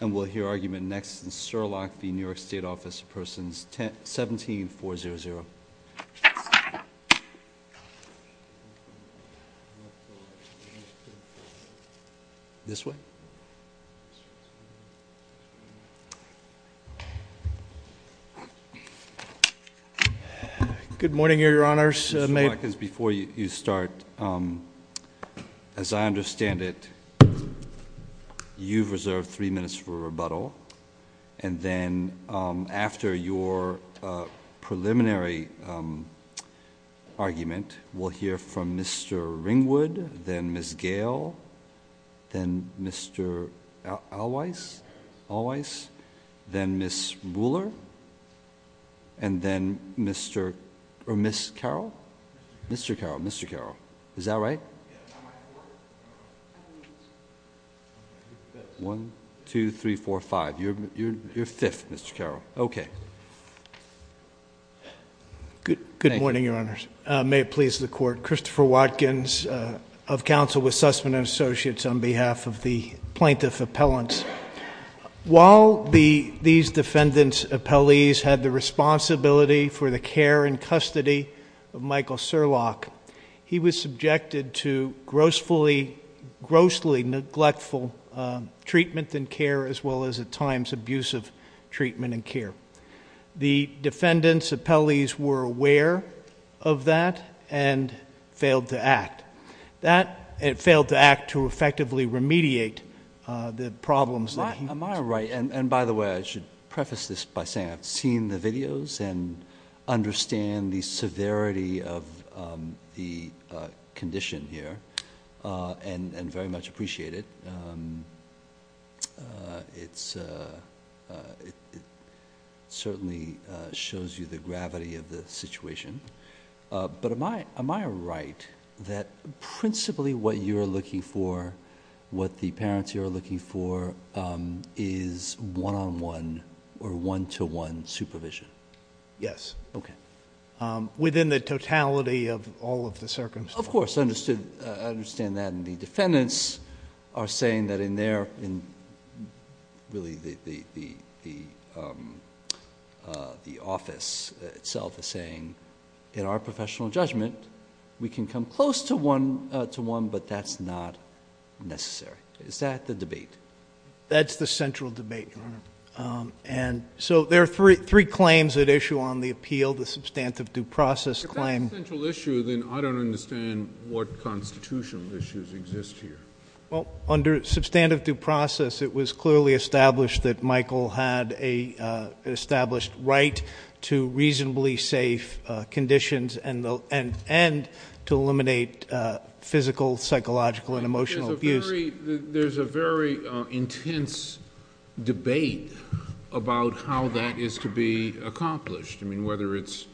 And we'll hear argument next in Surlock v. New York State Office of Persons, 17-400. This way. Good morning, your honors. May- Just a few seconds before you start, as I understand it, you've reserved three minutes for rebuttal, and then after your preliminary argument, we'll hear from Mr. Ringwood, then Ms. Gale, then Mr. Alweiss, then Ms. Buhler, and then Mr.- or Ms. Carroll? Mr. Carroll, Mr. Carroll. Is that right? One, two, three, four, five. You're fifth, Mr. Carroll. Okay. Good morning, your honors. May it please the court. Christopher Watkins of counsel with Sussman & Associates on behalf of the plaintiff appellants. While these defendant's appellees had the responsibility for the care and custody of Michael Surlock, he was subjected to grossly, grossly neglectful treatment and care, as well as at times abusive treatment and care. The defendant's appellees were aware of that and failed to act. That, it failed to act to effectively remediate the problems that he- Am I right, and by the way, I should preface this by saying I've seen the videos and understand the severity of the condition here, and very much appreciate it. It certainly shows you the gravity of the situation. But am I right that principally what you're looking for, what the parents here are looking for is one on one or one to one supervision? Yes. Okay. Within the totality of all of the circumstances. Of course, I understand that. And the defendants are saying that in their, in really the office itself is saying, in our professional judgment, we can come close to one, but that's not necessary. Is that the debate? That's the central debate, Your Honor. And so there are three claims at issue on the appeal, the substantive due process claim. If that's the central issue, then I don't understand what constitutional issues exist here. Well, under substantive due process, it was clearly established that Michael had an established right to reasonably safe conditions, and to eliminate physical, psychological, and emotional abuse. There's a very intense debate about how that is to be accomplished. I mean, whether it's,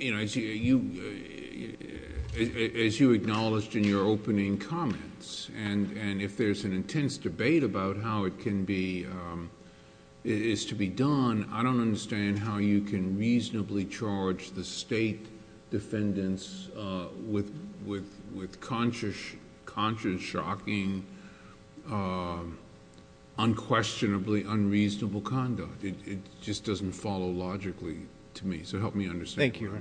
as you acknowledged in your opening comments, and if there's an intense debate about how it can be, is to be done, I don't understand how you can reasonably charge the state defendants with conscious, shocking, unquestionably unreasonable conduct. It just doesn't follow logically to me. So help me understand. Thank you.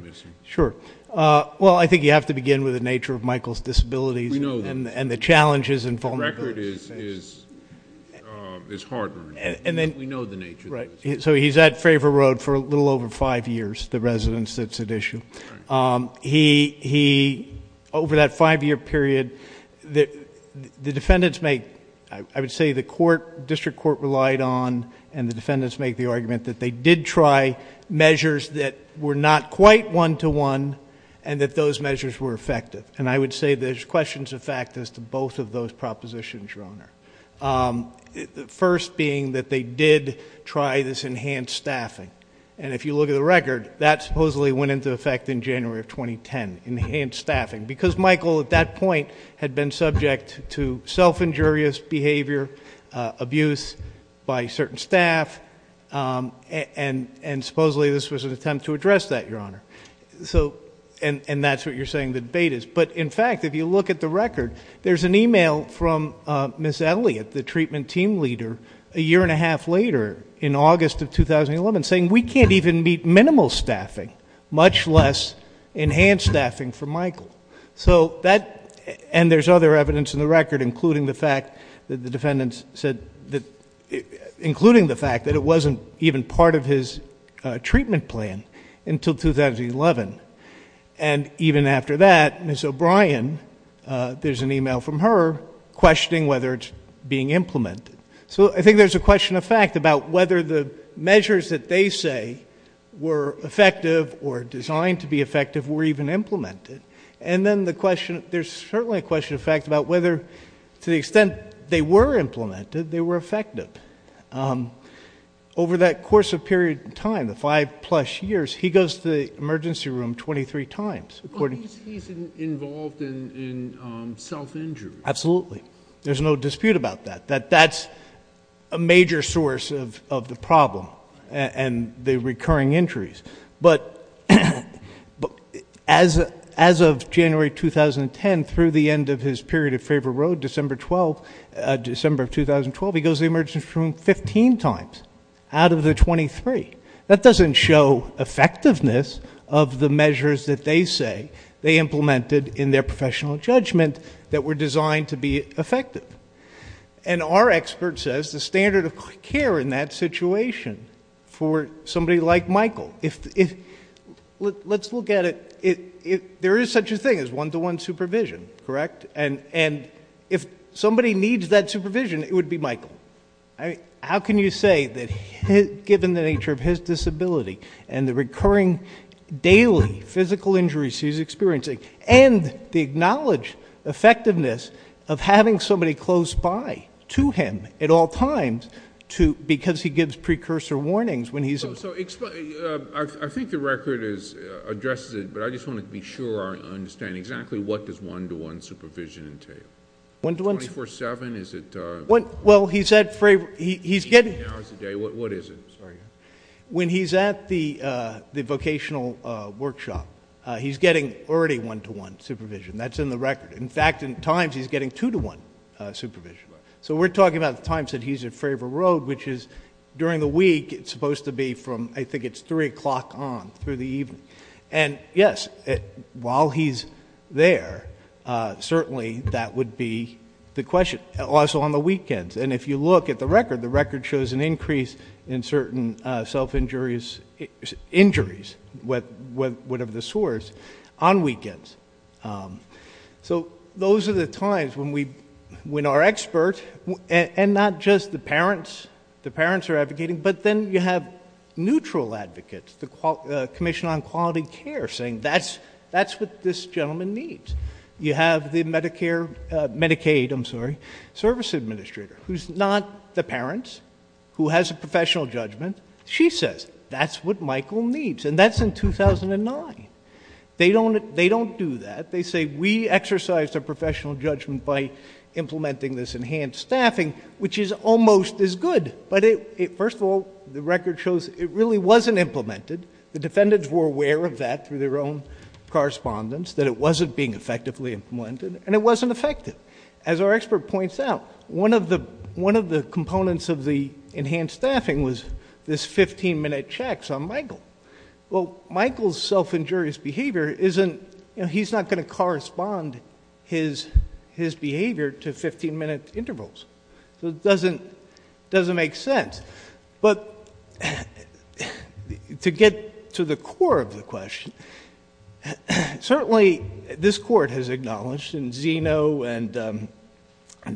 Sure. Well, I think you have to begin with the nature of Michael's disabilities and the challenges and vulnerabilities. The record is hard-earned. We know the nature of the issues. So he's at Favre Road for a little over five years, the residence that's at issue. Over that five-year period, the defendants make... I would say the district court relied on, and the defendants make the argument, that they did try measures that were not quite one-to-one, and that those measures were effective. And I would say there's questions of fact as to both of those propositions, Your Honor. First being that they did try this enhanced staffing. And if you look at the record, that supposedly went into effect in January of 2010, enhanced staffing. Because Michael, at that point, had been subject to self-injurious behavior, abuse by certain staff, and supposedly this was an attempt to address that, Your Honor. So, and that's what you're saying the debate is. But in fact, if you look at the record, there's an email from Ms. Elliott, the treatment team leader, a year and a half later, in August of 2011, saying we can't even meet minimal staffing, much less enhanced staffing for Michael. So that, and there's other evidence in the record, including the fact that the defendants said that, including the fact that it wasn't even part of his treatment plan until 2011. And even after that, Ms. O'Brien, there's an email from her questioning whether it's being implemented. So I think there's a question of fact about whether the measures that they say were effective or designed to be effective were even implemented. And then the question, there's certainly a question of fact about whether, to the extent they were implemented, they were effective. Over that course of period of time, the five plus years, he goes to the emergency room 23 times, according to- He's involved in self-injury. Absolutely. There's no dispute about that, that that's a major source of the problem and the recurring injuries. But as of January 2010, through the end of his period of favor road, December of 2012, he goes to the emergency room 15 times out of the 23. That doesn't show effectiveness of the measures that they say they implemented in their professional judgment that were designed to be effective. And our expert says the standard of care in that situation for somebody like Michael, let's look at it. There is such a thing as one-to-one supervision, correct? And if somebody needs that supervision, it would be Michael. How can you say that given the nature of his disability and the recurring daily physical injuries he's experiencing, and the acknowledged effectiveness of having somebody close by to him at all times, because he gives precursor warnings when he's- So I think the record addresses it, but I just want to be sure I understand exactly what does one-to-one supervision entail? One-to-one- 24-7, is it- Well, he's at- He's getting- 18 hours a day, what is it? Sorry. When he's at the vocational workshop, he's getting already one-to-one supervision. That's in the record. In fact, in times, he's getting two-to-one supervision. So we're talking about the times that he's at Fravor Road, which is during the week, it's supposed to be from, I think it's three o'clock on, through the evening. And yes, while he's there, certainly that would be the question. Also on the weekends, and if you look at the record, the record shows an increase in certain self-injuries, injuries, whatever the source, on weekends. So those are the times when our experts, and not just the parents, the parents are advocating, but then you have neutral advocates. The Commission on Quality Care saying, that's what this gentleman needs. You have the Medicare, Medicaid, I'm sorry, service administrator, who's not the parents, who has a professional judgment. She says, that's what Michael needs, and that's in 2009. They don't do that. They say, we exercise our professional judgment by implementing this enhanced staffing, which is almost as good. But first of all, the record shows it really wasn't implemented. The defendants were aware of that through their own correspondence, that it wasn't being effectively implemented, and it wasn't effective. As our expert points out, one of the components of the enhanced staffing was this 15 minute checks on Michael. Well, Michael's self-injurious behavior isn't, he's not going to correspond his behavior to 15 minute intervals. So it doesn't make sense. But to get to the core of the question, certainly this court has acknowledged, in Zeno and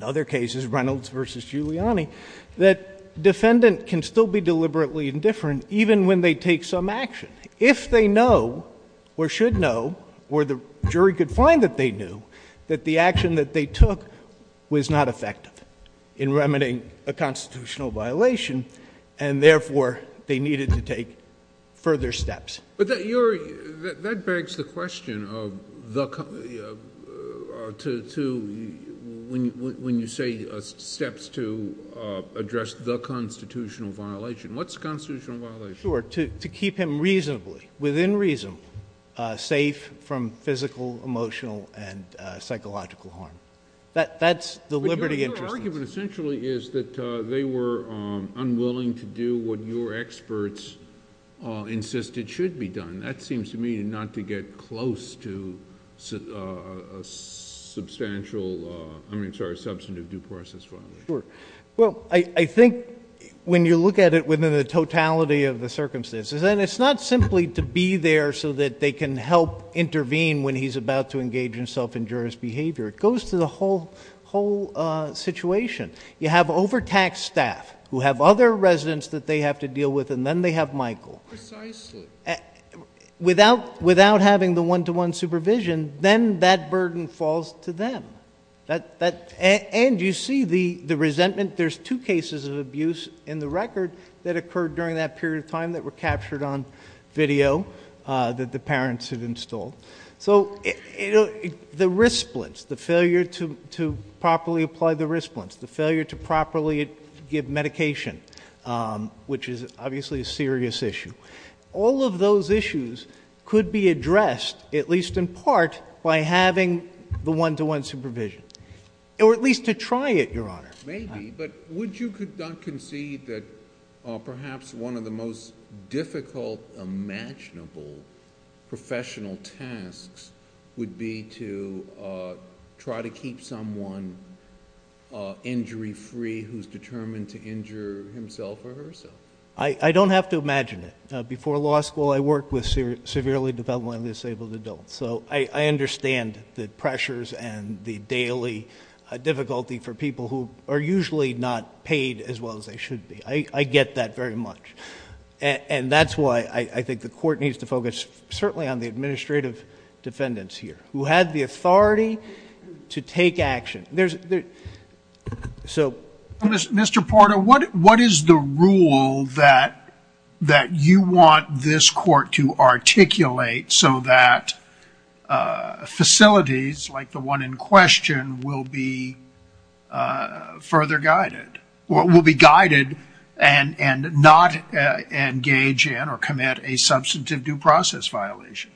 other cases, Reynolds versus Giuliani, that defendant can still be deliberately indifferent even when they take some action. If they know, or should know, or the jury could find that they knew, that the action that they took was not effective in remedying a constitutional violation. And therefore, they needed to take further steps. But that begs the question of when you say steps to address the constitutional violation, what's the constitutional violation? Sure, to keep him reasonably, within reason, safe from physical, emotional, and psychological harm. That's the liberty interest. The argument essentially is that they were unwilling to do what your experts insisted should be done. That seems to me not to get close to a substantial, I'm sorry, substantive due process violation. Well, I think when you look at it within the totality of the circumstances, and it's not simply to be there so that they can help intervene when he's about to engage in self-injurious behavior. It goes to the whole situation. You have overtaxed staff who have other residents that they have to deal with, and then they have Michael. Precisely. Without having the one-to-one supervision, then that burden falls to them. And you see the resentment, there's two cases of abuse in the record that occurred during that period of time that were captured on video that the parents had installed. So, the wrist splints, the failure to properly apply the wrist splints, the failure to properly give medication, which is obviously a serious issue. All of those issues could be addressed, at least in part, by having the one-to-one supervision, or at least to try it, Your Honor. Maybe, but would you concede that perhaps one of the most difficult, imaginable professional tasks would be to try to keep someone injury-free who's determined to injure himself or herself? I don't have to imagine it. Before law school, I worked with severely developing disabled adults. So, I understand the pressures and the daily difficulty for people who are usually not paid as well as they should be. I get that very much. And that's why I think the court needs to focus certainly on the administrative defendants here, who had the authority to take action. There's, so- Mr. Porter, what is the rule that you want this court to articulate so that facilities like the one in question will be further guided? Or will be guided and not engage in or commit a substantive due process violation?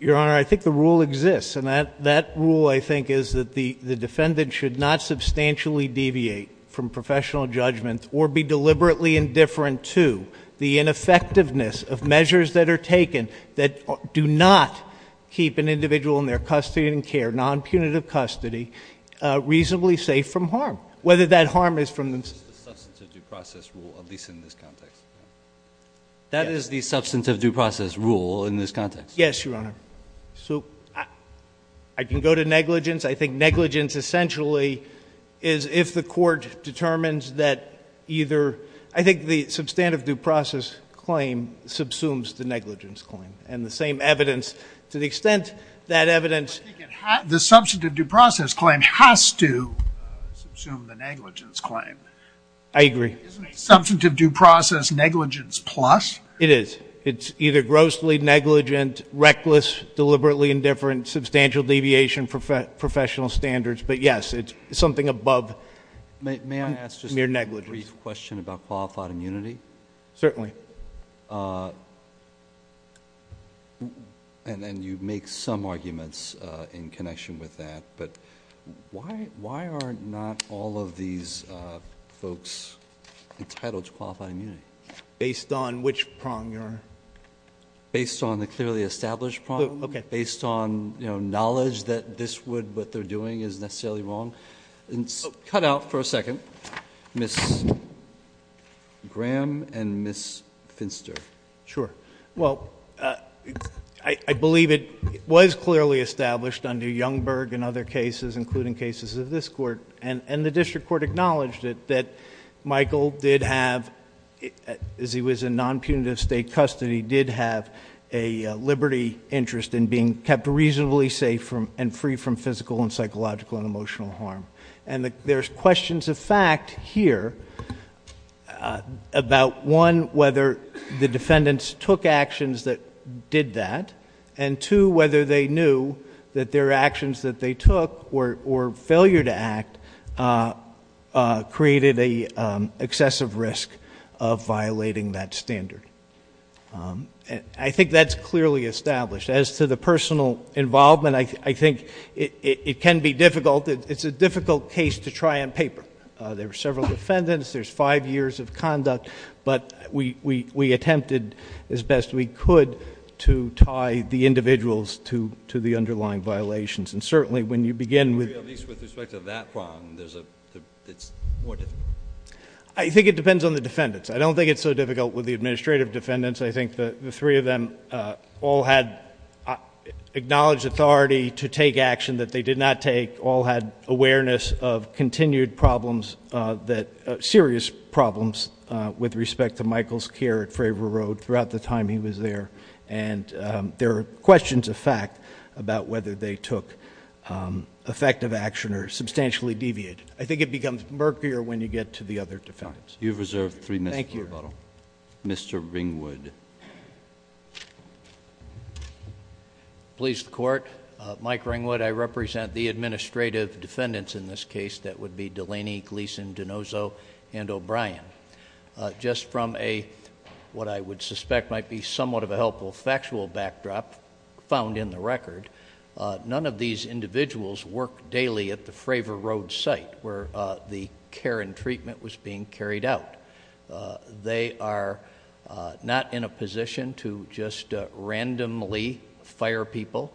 Your Honor, I think the rule exists. And that rule, I think, is that the defendant should not substantially deviate from professional judgment or be deliberately indifferent to the ineffectiveness of measures that are taken that do not keep an individual in their custody and care, non-punitive custody, reasonably safe from harm. Whether that harm is from the- Substantive due process rule, at least in this context. That is the substantive due process rule in this context. Yes, Your Honor. So, I can go to negligence. I think negligence essentially is if the court determines that either, I think the substantive due process claim subsumes the negligence claim. And the same evidence, to the extent that evidence- The substantive due process claim has to subsume the negligence claim. I agree. Substantive due process negligence plus? It is. It's either grossly negligent, reckless, deliberately indifferent, substantial deviation from professional standards, but yes, it's something above mere negligence. Brief question about qualified immunity. Certainly. And then you make some arguments in connection with that. But why are not all of these folks entitled to qualified immunity? Based on which prong, Your Honor? Based on the clearly established prong. Okay. Based on knowledge that this would, what they're doing is necessarily wrong. And cut out for a second, Ms. Graham and Ms. Finster. Sure. Well, I believe it was clearly established under Youngberg and other cases, including cases of this court. And the district court acknowledged it, that Michael did have, as he was in non-punitive state custody, did have a liberty interest in being kept reasonably safe and free from physical and psychological and emotional harm. And there's questions of fact here about one, whether the defendants took actions that did that. And two, whether they knew that their actions that they took, or failure to act, created an excessive risk of violating that standard. I think that's clearly established. As to the personal involvement, I think it can be difficult. It's a difficult case to try on paper. There are several defendants. There's five years of conduct. But we attempted as best we could to tie the individuals to the underlying violations. And certainly when you begin with- At least with respect to that prong, it's more difficult. I think it depends on the defendants. I don't think it's so difficult with the administrative defendants. I think the three of them all had acknowledged authority to take action that they did not take. All had awareness of continued problems, serious problems, with respect to Michael's care at Fravor Road throughout the time he was there. And there are questions of fact about whether they took effective action or substantially deviated. I think it becomes murkier when you get to the other defendants. You've reserved three minutes for rebuttal. Thank you. Mr. Ringwood. Please, the court. Mike Ringwood, I represent the administrative defendants in this case. That would be Delaney, Gleason, Donoso, and O'Brien. Just from a, what I would suspect might be somewhat of a helpful factual backdrop found in the record. None of these individuals work daily at the Fravor Road site where the care and treatment was being carried out. They are not in a position to just randomly fire people.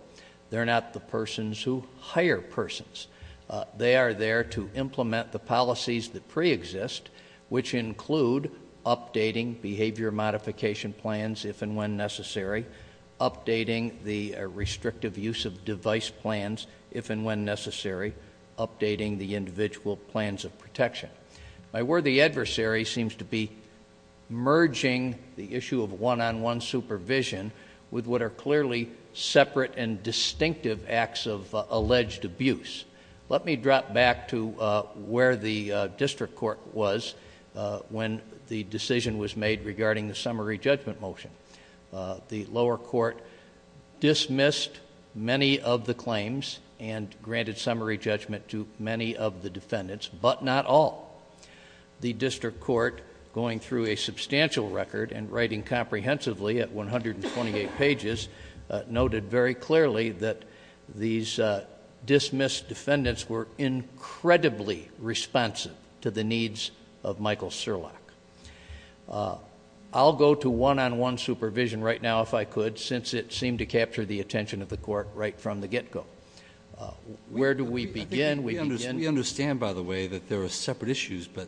They're not the persons who hire persons. They are there to implement the policies that pre-exist, which include updating behavior modification plans if and when necessary. Updating the restrictive use of device plans if and when necessary, updating the individual plans of protection. My worthy adversary seems to be merging the issue of one-on-one supervision with what are clearly separate and distinctive acts of alleged abuse. Let me drop back to where the district court was when the decision was made regarding the summary judgment motion. The lower court dismissed many of the claims and granted summary judgment to many of the defendants, but not all. The district court, going through a substantial record and writing comprehensively at 128 pages, noted very clearly that these dismissed defendants were incredibly responsive to the needs of Michael Surlock. I'll go to one-on-one supervision right now if I could, since it seemed to capture the attention of the court right from the get-go. Where do we begin? We begin- We understand, by the way, that there are separate issues, but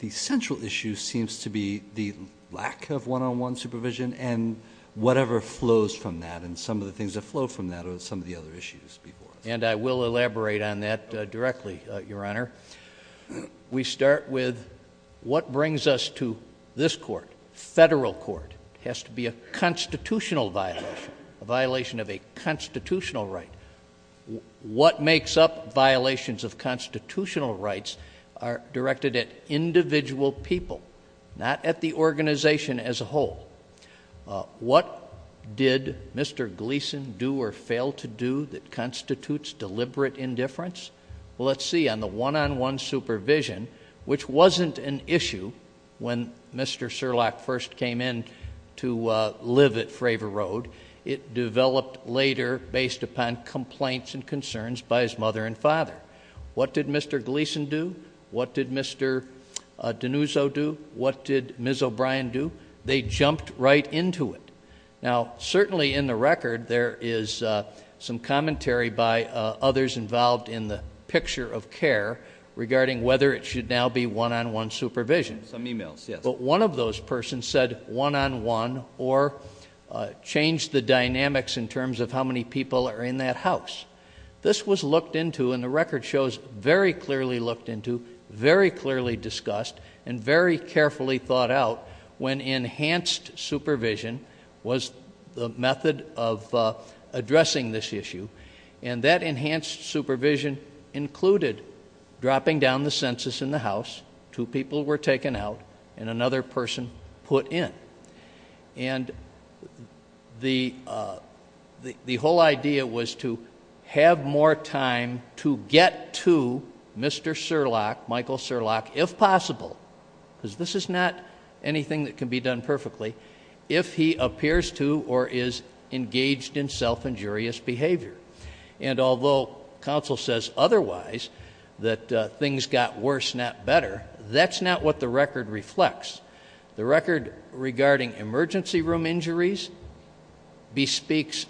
the central issue seems to be the lack of one-on-one supervision and whatever flows from that and some of the things that flow from that are some of the other issues before us. And I will elaborate on that directly, Your Honor. We start with what brings us to this court, federal court. Has to be a constitutional violation, a violation of a constitutional right. What makes up violations of constitutional rights are directed at individual people, not at the organization as a whole. What did Mr. Gleason do or fail to do that constitutes deliberate indifference? Let's see, on the one-on-one supervision, which wasn't an issue when Mr. Surlock first came in to live at Fravor Road. It developed later based upon complaints and concerns by his mother and father. What did Mr. Gleason do? What did Mr. Denuso do? What did Ms. O'Brien do? They jumped right into it. Now, certainly in the record, there is some commentary by others involved in the picture of care regarding whether it should now be one-on-one supervision. Some emails, yes. But one of those persons said one-on-one or changed the dynamics in terms of how many people are in that house. This was looked into, and the record shows, very clearly looked into, very clearly discussed, and very carefully thought out when enhanced supervision was the method of addressing this issue. And that enhanced supervision included dropping down the census in the house. Two people were taken out, and another person put in. And the whole idea was to have more time to get to Mr. Surlock, Michael Surlock, if possible. because this is not anything that can be done perfectly, if he appears to or is engaged in self-injurious behavior. And although council says otherwise, that things got worse, not better, that's not what the record reflects. The record regarding emergency room injuries bespeaks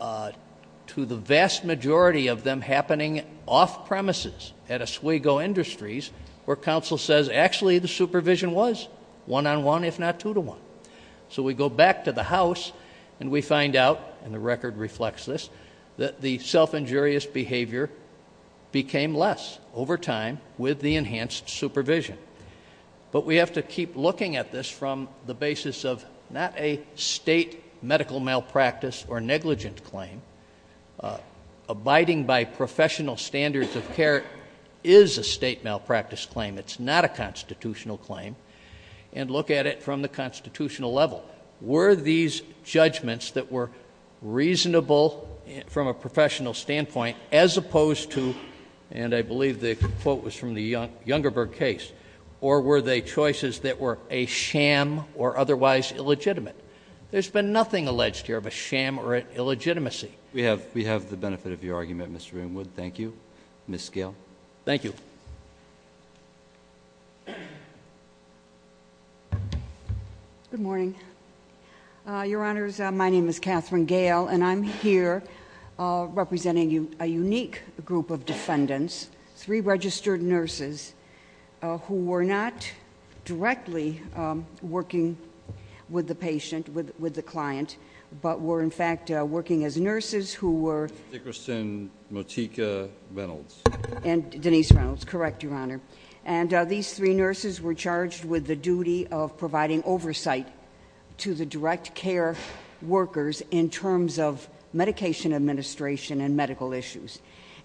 to the vast majority of them happening off premises at Oswego Industries, where council says actually the supervision was one-on-one, if not two-to-one. So we go back to the house, and we find out, and the record reflects this, that the self-injurious behavior became less over time with the enhanced supervision. But we have to keep looking at this from the basis of not a state medical malpractice or negligent claim, abiding by professional standards of care is a state malpractice claim, it's not a constitutional claim. And look at it from the constitutional level. Were these judgments that were reasonable from a professional standpoint, as opposed to, and I believe the quote was from the Youngerberg case, or were they choices that were a sham or otherwise illegitimate? There's been nothing alleged here of a sham or an illegitimacy. We have the benefit of your argument, Mr. Ringwood. Thank you, Ms. Gale. Thank you. Good morning. Your Honors, my name is Catherine Gale, and I'm here representing a unique group of defendants. Three registered nurses who were not directly working with the patient, with the client, but were in fact working as nurses who were- Dickerson, Motika, Reynolds. And Denise Reynolds, correct, Your Honor. And these three nurses were charged with the duty of providing oversight to the direct care workers in terms of medication administration and medical issues.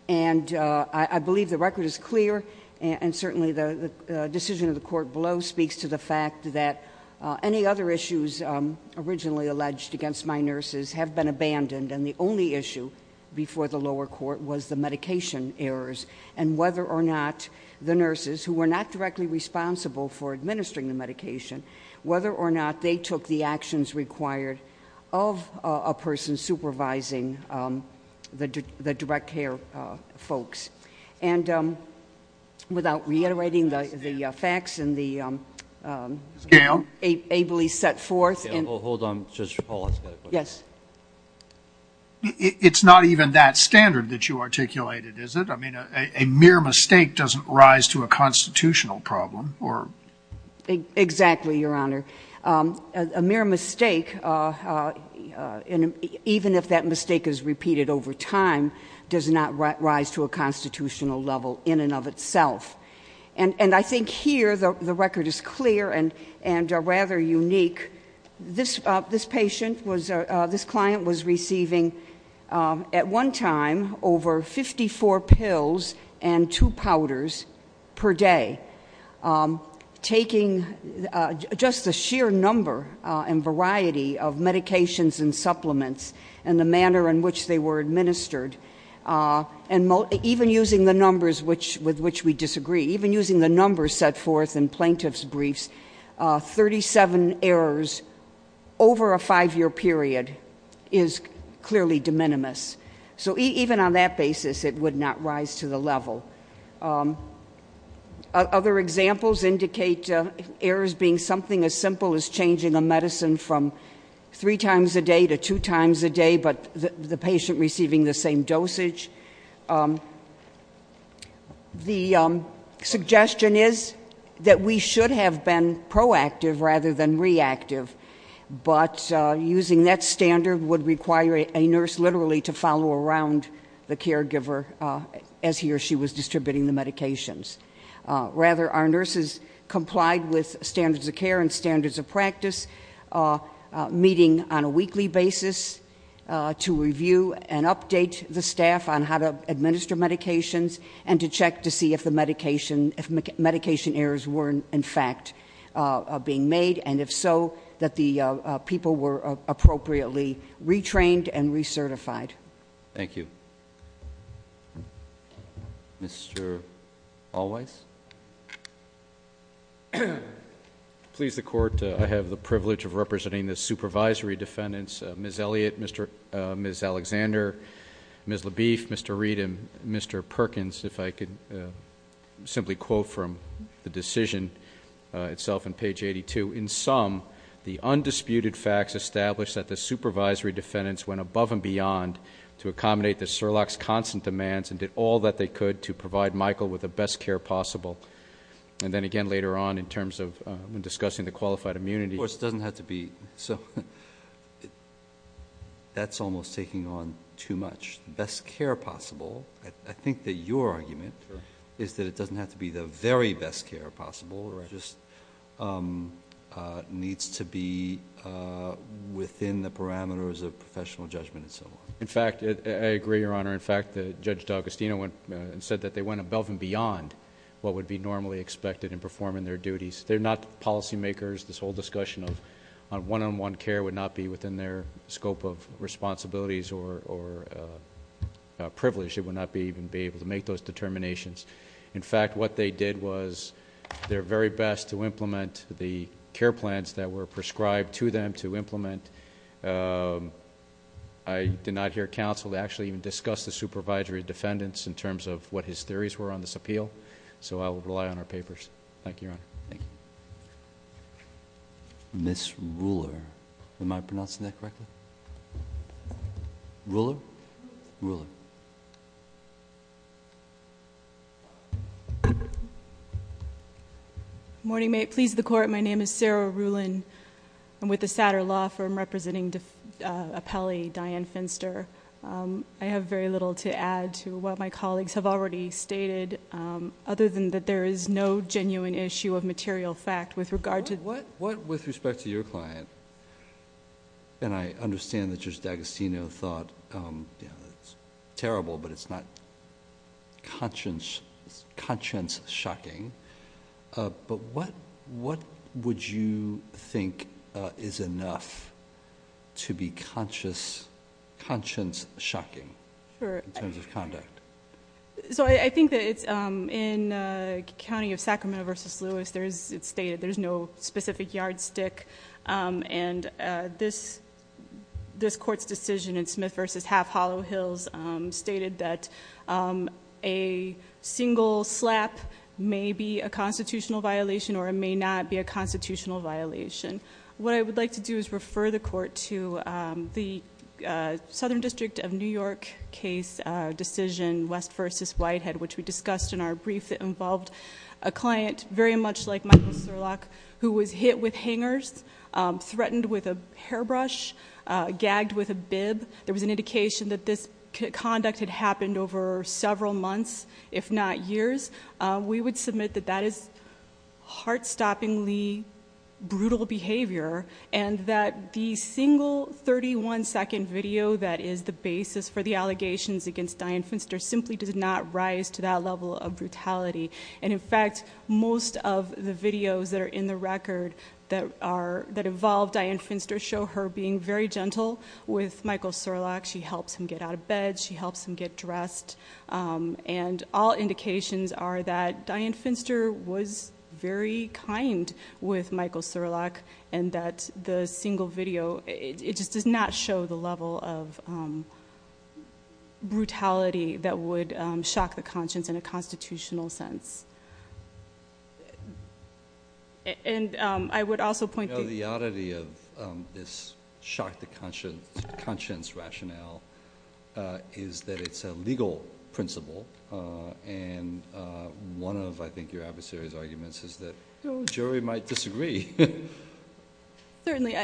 And I believe the record is clear, and certainly the decision of the court below speaks to the fact that any other issues originally alleged against my nurses have been abandoned. And the only issue before the lower court was the medication errors. And whether or not the nurses, who were not directly responsible for administering the medication, whether or not they took the actions required of a person supervising the direct care folks. And without reiterating the facts and the- Ms. Gale? Ably set forth in- Hold on, just hold on a second. Yes. It's not even that standard that you articulated, is it? I mean, a mere mistake doesn't rise to a constitutional problem, or- Exactly, Your Honor. A mere mistake, even if that mistake is repeated over time, does not rise to a constitutional level in and of itself. And I think here, the record is clear and rather unique. This patient was, this client was receiving at one time over 54 pills and two powders per day. Taking just the sheer number and variety of medications and supplements and the manner in which they were administered. And even using the numbers with which we disagree, even using the numbers set forth in plaintiff's briefs, 37 errors over a five year period is clearly de minimis. So even on that basis, it would not rise to the level. Other examples indicate errors being something as simple as changing a medicine from three times a day to two times a day, but the patient receiving the same dosage. The suggestion is that we should have been proactive rather than reactive. But using that standard would require a nurse literally to follow around the caregiver as he or she was distributing the medications. Rather, our nurses complied with standards of care and standards of practice, meeting on a weekly basis to review and update the staff on how to administer medications. And to check to see if the medication errors were, in fact, being made. And if so, that the people were appropriately retrained and recertified. Thank you. Mr. Alwise? Please, the court, I have the privilege of representing the supervisory defendants, Ms. Elliott, Ms. Alexander, Ms. LaBeef, Mr. Reed, and Mr. Perkins, if I could simply quote from the decision itself on page 82, in sum, the undisputed facts establish that the supervisory defendants went above and beyond to accommodate the Surlock's constant demands and did all that they could to provide Michael with the best care possible. And then again, later on, in terms of when discussing the qualified immunity- Of course, it doesn't have to be, so that's almost taking on too much. Best care possible, I think that your argument is that it doesn't have to be the very best care possible, it just needs to be within the parameters of professional judgment and so on. In fact, I agree, your honor. In fact, Judge D'Agostino said that they went above and beyond what would be normally expected in performing their duties. They're not policy makers, this whole discussion of one on one care would not be within their scope of responsibilities or privilege, it would not even be able to make those determinations. In fact, what they did was their very best to implement the care plans that were prescribed to them to implement. I did not hear counsel to actually even discuss the supervisory defendants in terms of what his theories were on this appeal. So I will rely on our papers. Thank you, your honor. Thank you. Ms. Ruler, am I pronouncing that correctly? Ruler? Ruler. Morning, may it please the court. My name is Sarah Rulin. I'm with the Satter Law Firm representing appellee, Diane Finster. I have very little to add to what my colleagues have already stated, other than that there is no genuine issue of material fact with regard to- What, with respect to your client, and I understand that Judge D'Agostino thought, it's terrible, but it's not conscience shocking. But what would you think is enough to be conscience shocking in terms of conduct? So I think that it's, in the county of Sacramento versus Lewis, it's stated there's no specific yardstick. And this court's decision in Smith versus Half Hollow Hills stated that a single slap may be a constitutional violation, or it may not be a constitutional violation. What I would like to do is refer the court to the Southern District of New York case decision, West versus Whitehead, which we discussed in our brief that involved a client very much like Michael Surlock, who was hit with hangers, threatened with a hairbrush, gagged with a bib. There was an indication that this conduct had happened over several months, if not years. We would submit that that is heart-stoppingly brutal behavior, and that the single 31-second video that is the basis for the allegations against Dianne Finster simply does not rise to that level of brutality. And in fact, most of the videos that are in the record that involved Dianne Finster show her being very gentle with Michael Surlock. She helps him get out of bed, she helps him get dressed. And all indications are that Dianne Finster was very kind with Michael Surlock, and that the single video, it just does not show the level of brutality that would shock the conscience in a constitutional sense. And I would also point- The oddity of this shock the conscience rationale is that it's a legal principle. And one of, I think, your adversaries' arguments is that the jury might disagree. Certainly,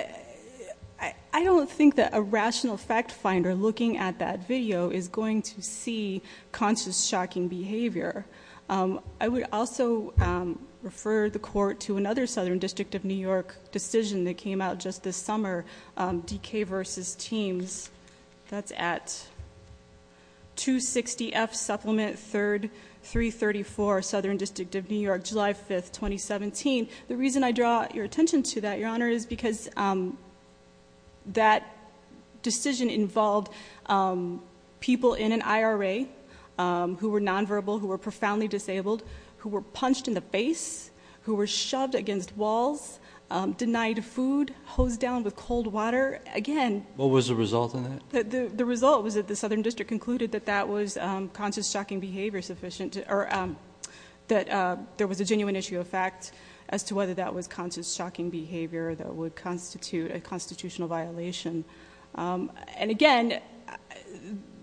I don't think that a rational fact finder looking at that video is going to see conscious shocking behavior. I would also refer the court to another Southern District of New York decision that came out just this summer. DK versus Teams, that's at 260F Supplement 3334, Southern District of New York, July 5th, 2017. The reason I draw your attention to that, Your Honor, is because that decision involved people in an IRA who were non-verbal, who were profoundly disabled, who were punched in the face, who were shoved against walls, denied food, hosed down with cold water. Again- What was the result of that? The result was that the Southern District concluded that that was conscious shocking behavior sufficient, or that there was a genuine issue of fact as to whether that was conscious shocking behavior that would constitute a constitutional violation. And again,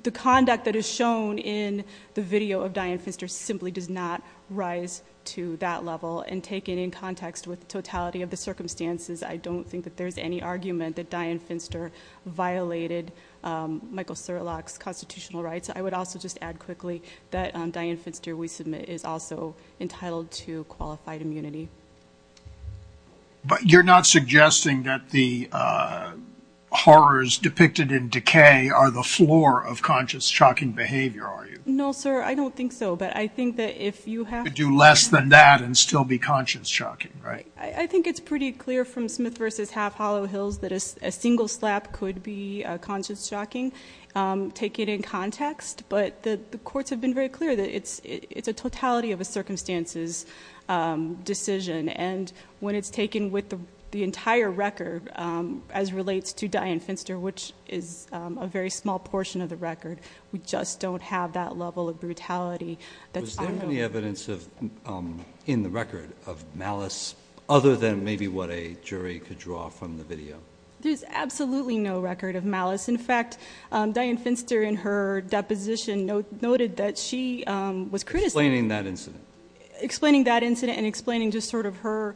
the conduct that is shown in the video of Dianne Finster simply does not rise to that level. And taken in context with the totality of the circumstances, I don't think that there's any argument that Dianne Finster violated Michael Surlock's constitutional rights. I would also just add quickly that Dianne Finster, we submit, is also entitled to qualified immunity. But you're not suggesting that the horrors depicted in decay are the floor of conscious shocking behavior, are you? No, sir, I don't think so. But I think that if you have- Could do less than that and still be conscious shocking, right? I think it's pretty clear from Smith v. Half Hollow Hills that a single slap could be conscious shocking. Take it in context, but the courts have been very clear that it's a totality of a circumstances decision, and when it's taken with the entire record, as relates to Dianne Finster, which is a very small portion of the record, we just don't have that level of brutality. Was there any evidence in the record of malice other than maybe what a jury could draw from the video? There's absolutely no record of malice. In fact, Dianne Finster in her deposition noted that she was- Explaining that incident. Explaining that incident and explaining just sort of her-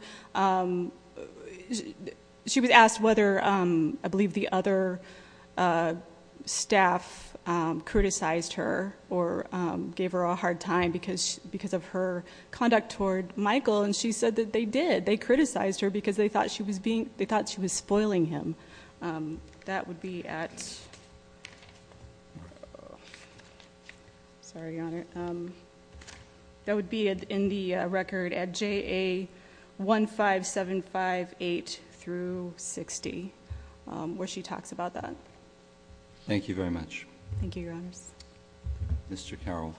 She was asked whether, I believe, the other staff criticized her or gave her a hard time because of her conduct toward Michael, and she said that they did. They criticized her because they thought she was spoiling him. Sorry, Your Honor. That would be in the record at JA15758-60, where she talks about that. Thank you very much. Thank you, Your Honors. Mr. Carroll.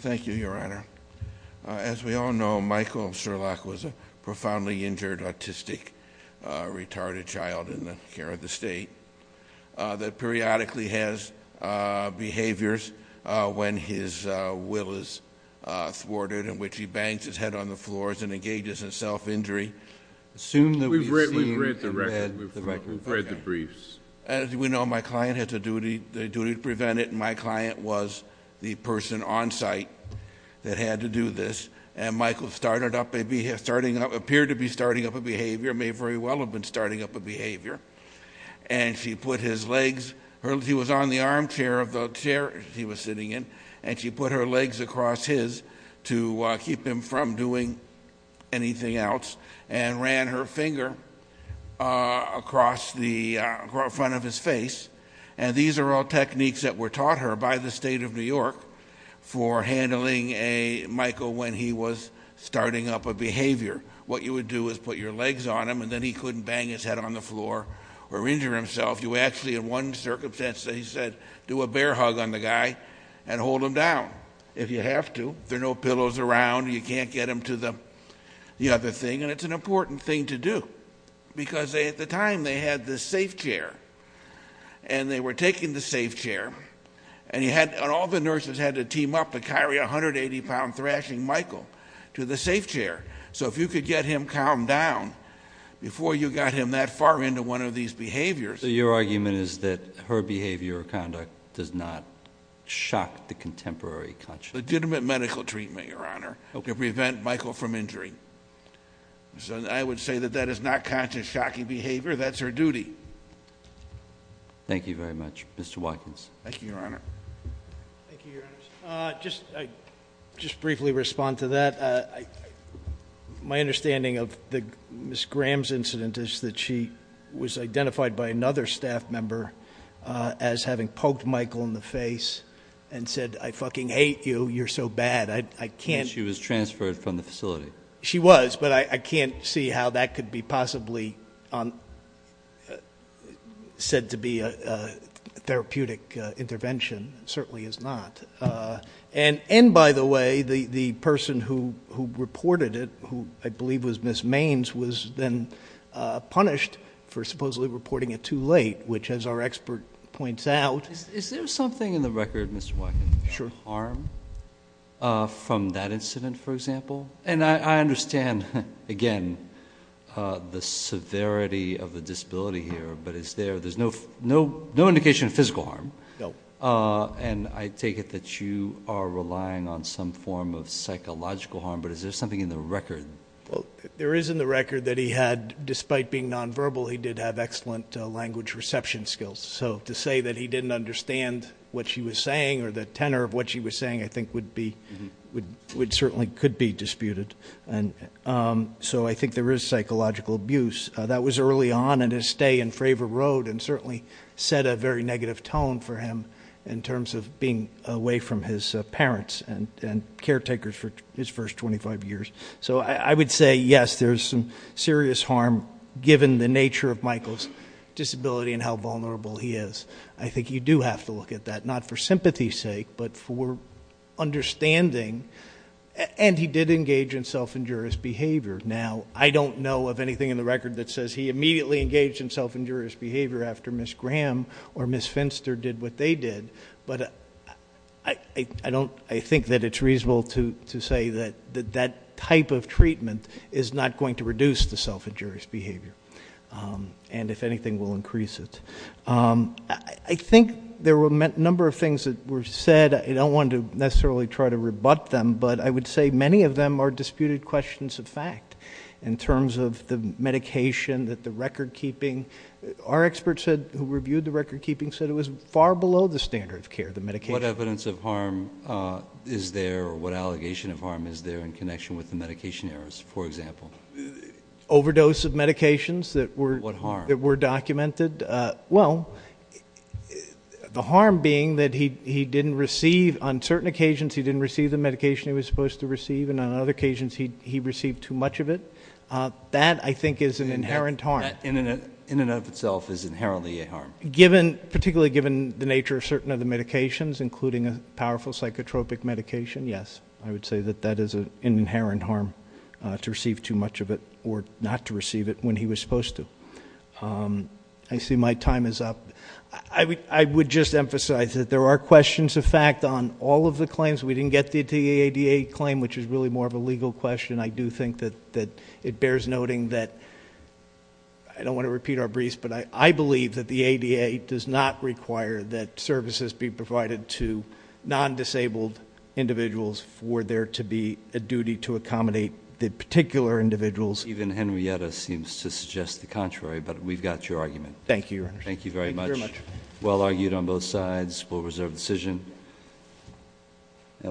Thank you, Your Honor. As we all know, Michael Sherlock was a profoundly injured, autistic, retarded child in the care of the state that periodically has behaviors when his will is thwarted, in which he bangs his head on the floors and engages in self-injury. We've read the record. We've read the briefs. As we know, my client had the duty to prevent it, and my client was the person on site that had to do this, and Michael appeared to be starting up a behavior, may very well have been starting up a behavior, and she put his legs- He was on the armchair of the chair he was sitting in, and she put her legs across his to keep him from doing anything else, and ran her finger across the front of his face. And these are all techniques that were taught her by the state of New York for handling Michael when he was starting up a behavior. What you would do is put your legs on him, and then he couldn't bang his head on the floor or injure himself. You actually, in one circumstance, he said, do a bear hug on the guy and hold him down, if you have to. There are no pillows around. You can't get him to the other thing, and it's an important thing to do, because at the time, they had this safe chair, and they were taking the safe chair, and all the nurses had to team up to carry a 180-pound thrashing Michael to the safe chair. So if you could get him calmed down before you got him that far into one of these behaviors- So your argument is that her behavior or conduct does not shock the contemporary conscience? Legitimate medical treatment, Your Honor, to prevent Michael from injury. So I would say that that is not conscious shocking behavior. That's her duty. Thank you very much. Mr. Watkins. Thank you, Your Honor. Thank you, Your Honor. Just briefly respond to that. My understanding of Ms. Graham's incident is that she was identified by another staff member as having poked Michael in the face and said, I fucking hate you. You're so bad. I can't- She was transferred from the facility. She was, but I can't see how that could be possibly said to be a therapeutic intervention. It certainly is not. And, by the way, the person who reported it, who I believe was Ms. Maines, was then punished for supposedly reporting it too late, which, as our expert points out- Is there something in the record, Mr. Watkins? Sure. Harm from that incident, for example? And I understand, again, the severity of the disability here, but there's no indication of physical harm. No. And I take it that you are relying on some form of psychological harm, but is there something in the record? Well, there is in the record that he had, despite being nonverbal, he did have excellent language reception skills. So to say that he didn't understand what she was saying or the tenor of what she was saying, I think, certainly could be disputed. So I think there is psychological abuse. That was early on in his stay in Fravor Road and certainly set a very negative tone for him in terms of being away from his parents and caretakers for his first 25 years. So I would say, yes, there's some serious harm, given the nature of Michael's disability and how vulnerable he is. I think you do have to look at that, not for sympathy's sake, but for understanding. And he did engage in self-injurious behavior. Now, I don't know of anything in the record that says he immediately engaged in self-injurious behavior after Ms. Graham or Ms. Finster did what they did, but I think that it's reasonable to say that that type of treatment is not going to reduce the self-injurious behavior and, if anything, will increase it. I think there were a number of things that were said. I don't want to necessarily try to rebut them, but I would say many of them are disputed questions of fact in terms of the medication, that the record-keeping. Our experts who reviewed the record-keeping said it was far below the standard of care, the medication. What evidence of harm is there or what allegation of harm is there in connection with the medication errors, for example? Overdose of medications that were documented. What harm? Well, the harm being that he didn't receive, on certain occasions he didn't receive the medication he was supposed to receive, and on other occasions he received too much of it. That, I think, is an inherent harm. In and of itself is inherently a harm. Particularly given the nature of certain of the medications, including a powerful psychotropic medication, yes. I would say that that is an inherent harm, to receive too much of it or not to receive it when he was supposed to. I see my time is up. I would just emphasize that there are questions of fact on all of the claims. We didn't get to the ADA claim, which is really more of a legal question. I do think that it bears noting that, I don't want to repeat our briefs, but I believe that the ADA does not require that services be provided to non-disabled individuals for there to be a duty to accommodate the particular individuals. Even Henrietta seems to suggest the contrary, but we've got your argument. Thank you, Your Honor. Thank you very much. Thank you very much. Well argued on both sides. We'll reserve decision.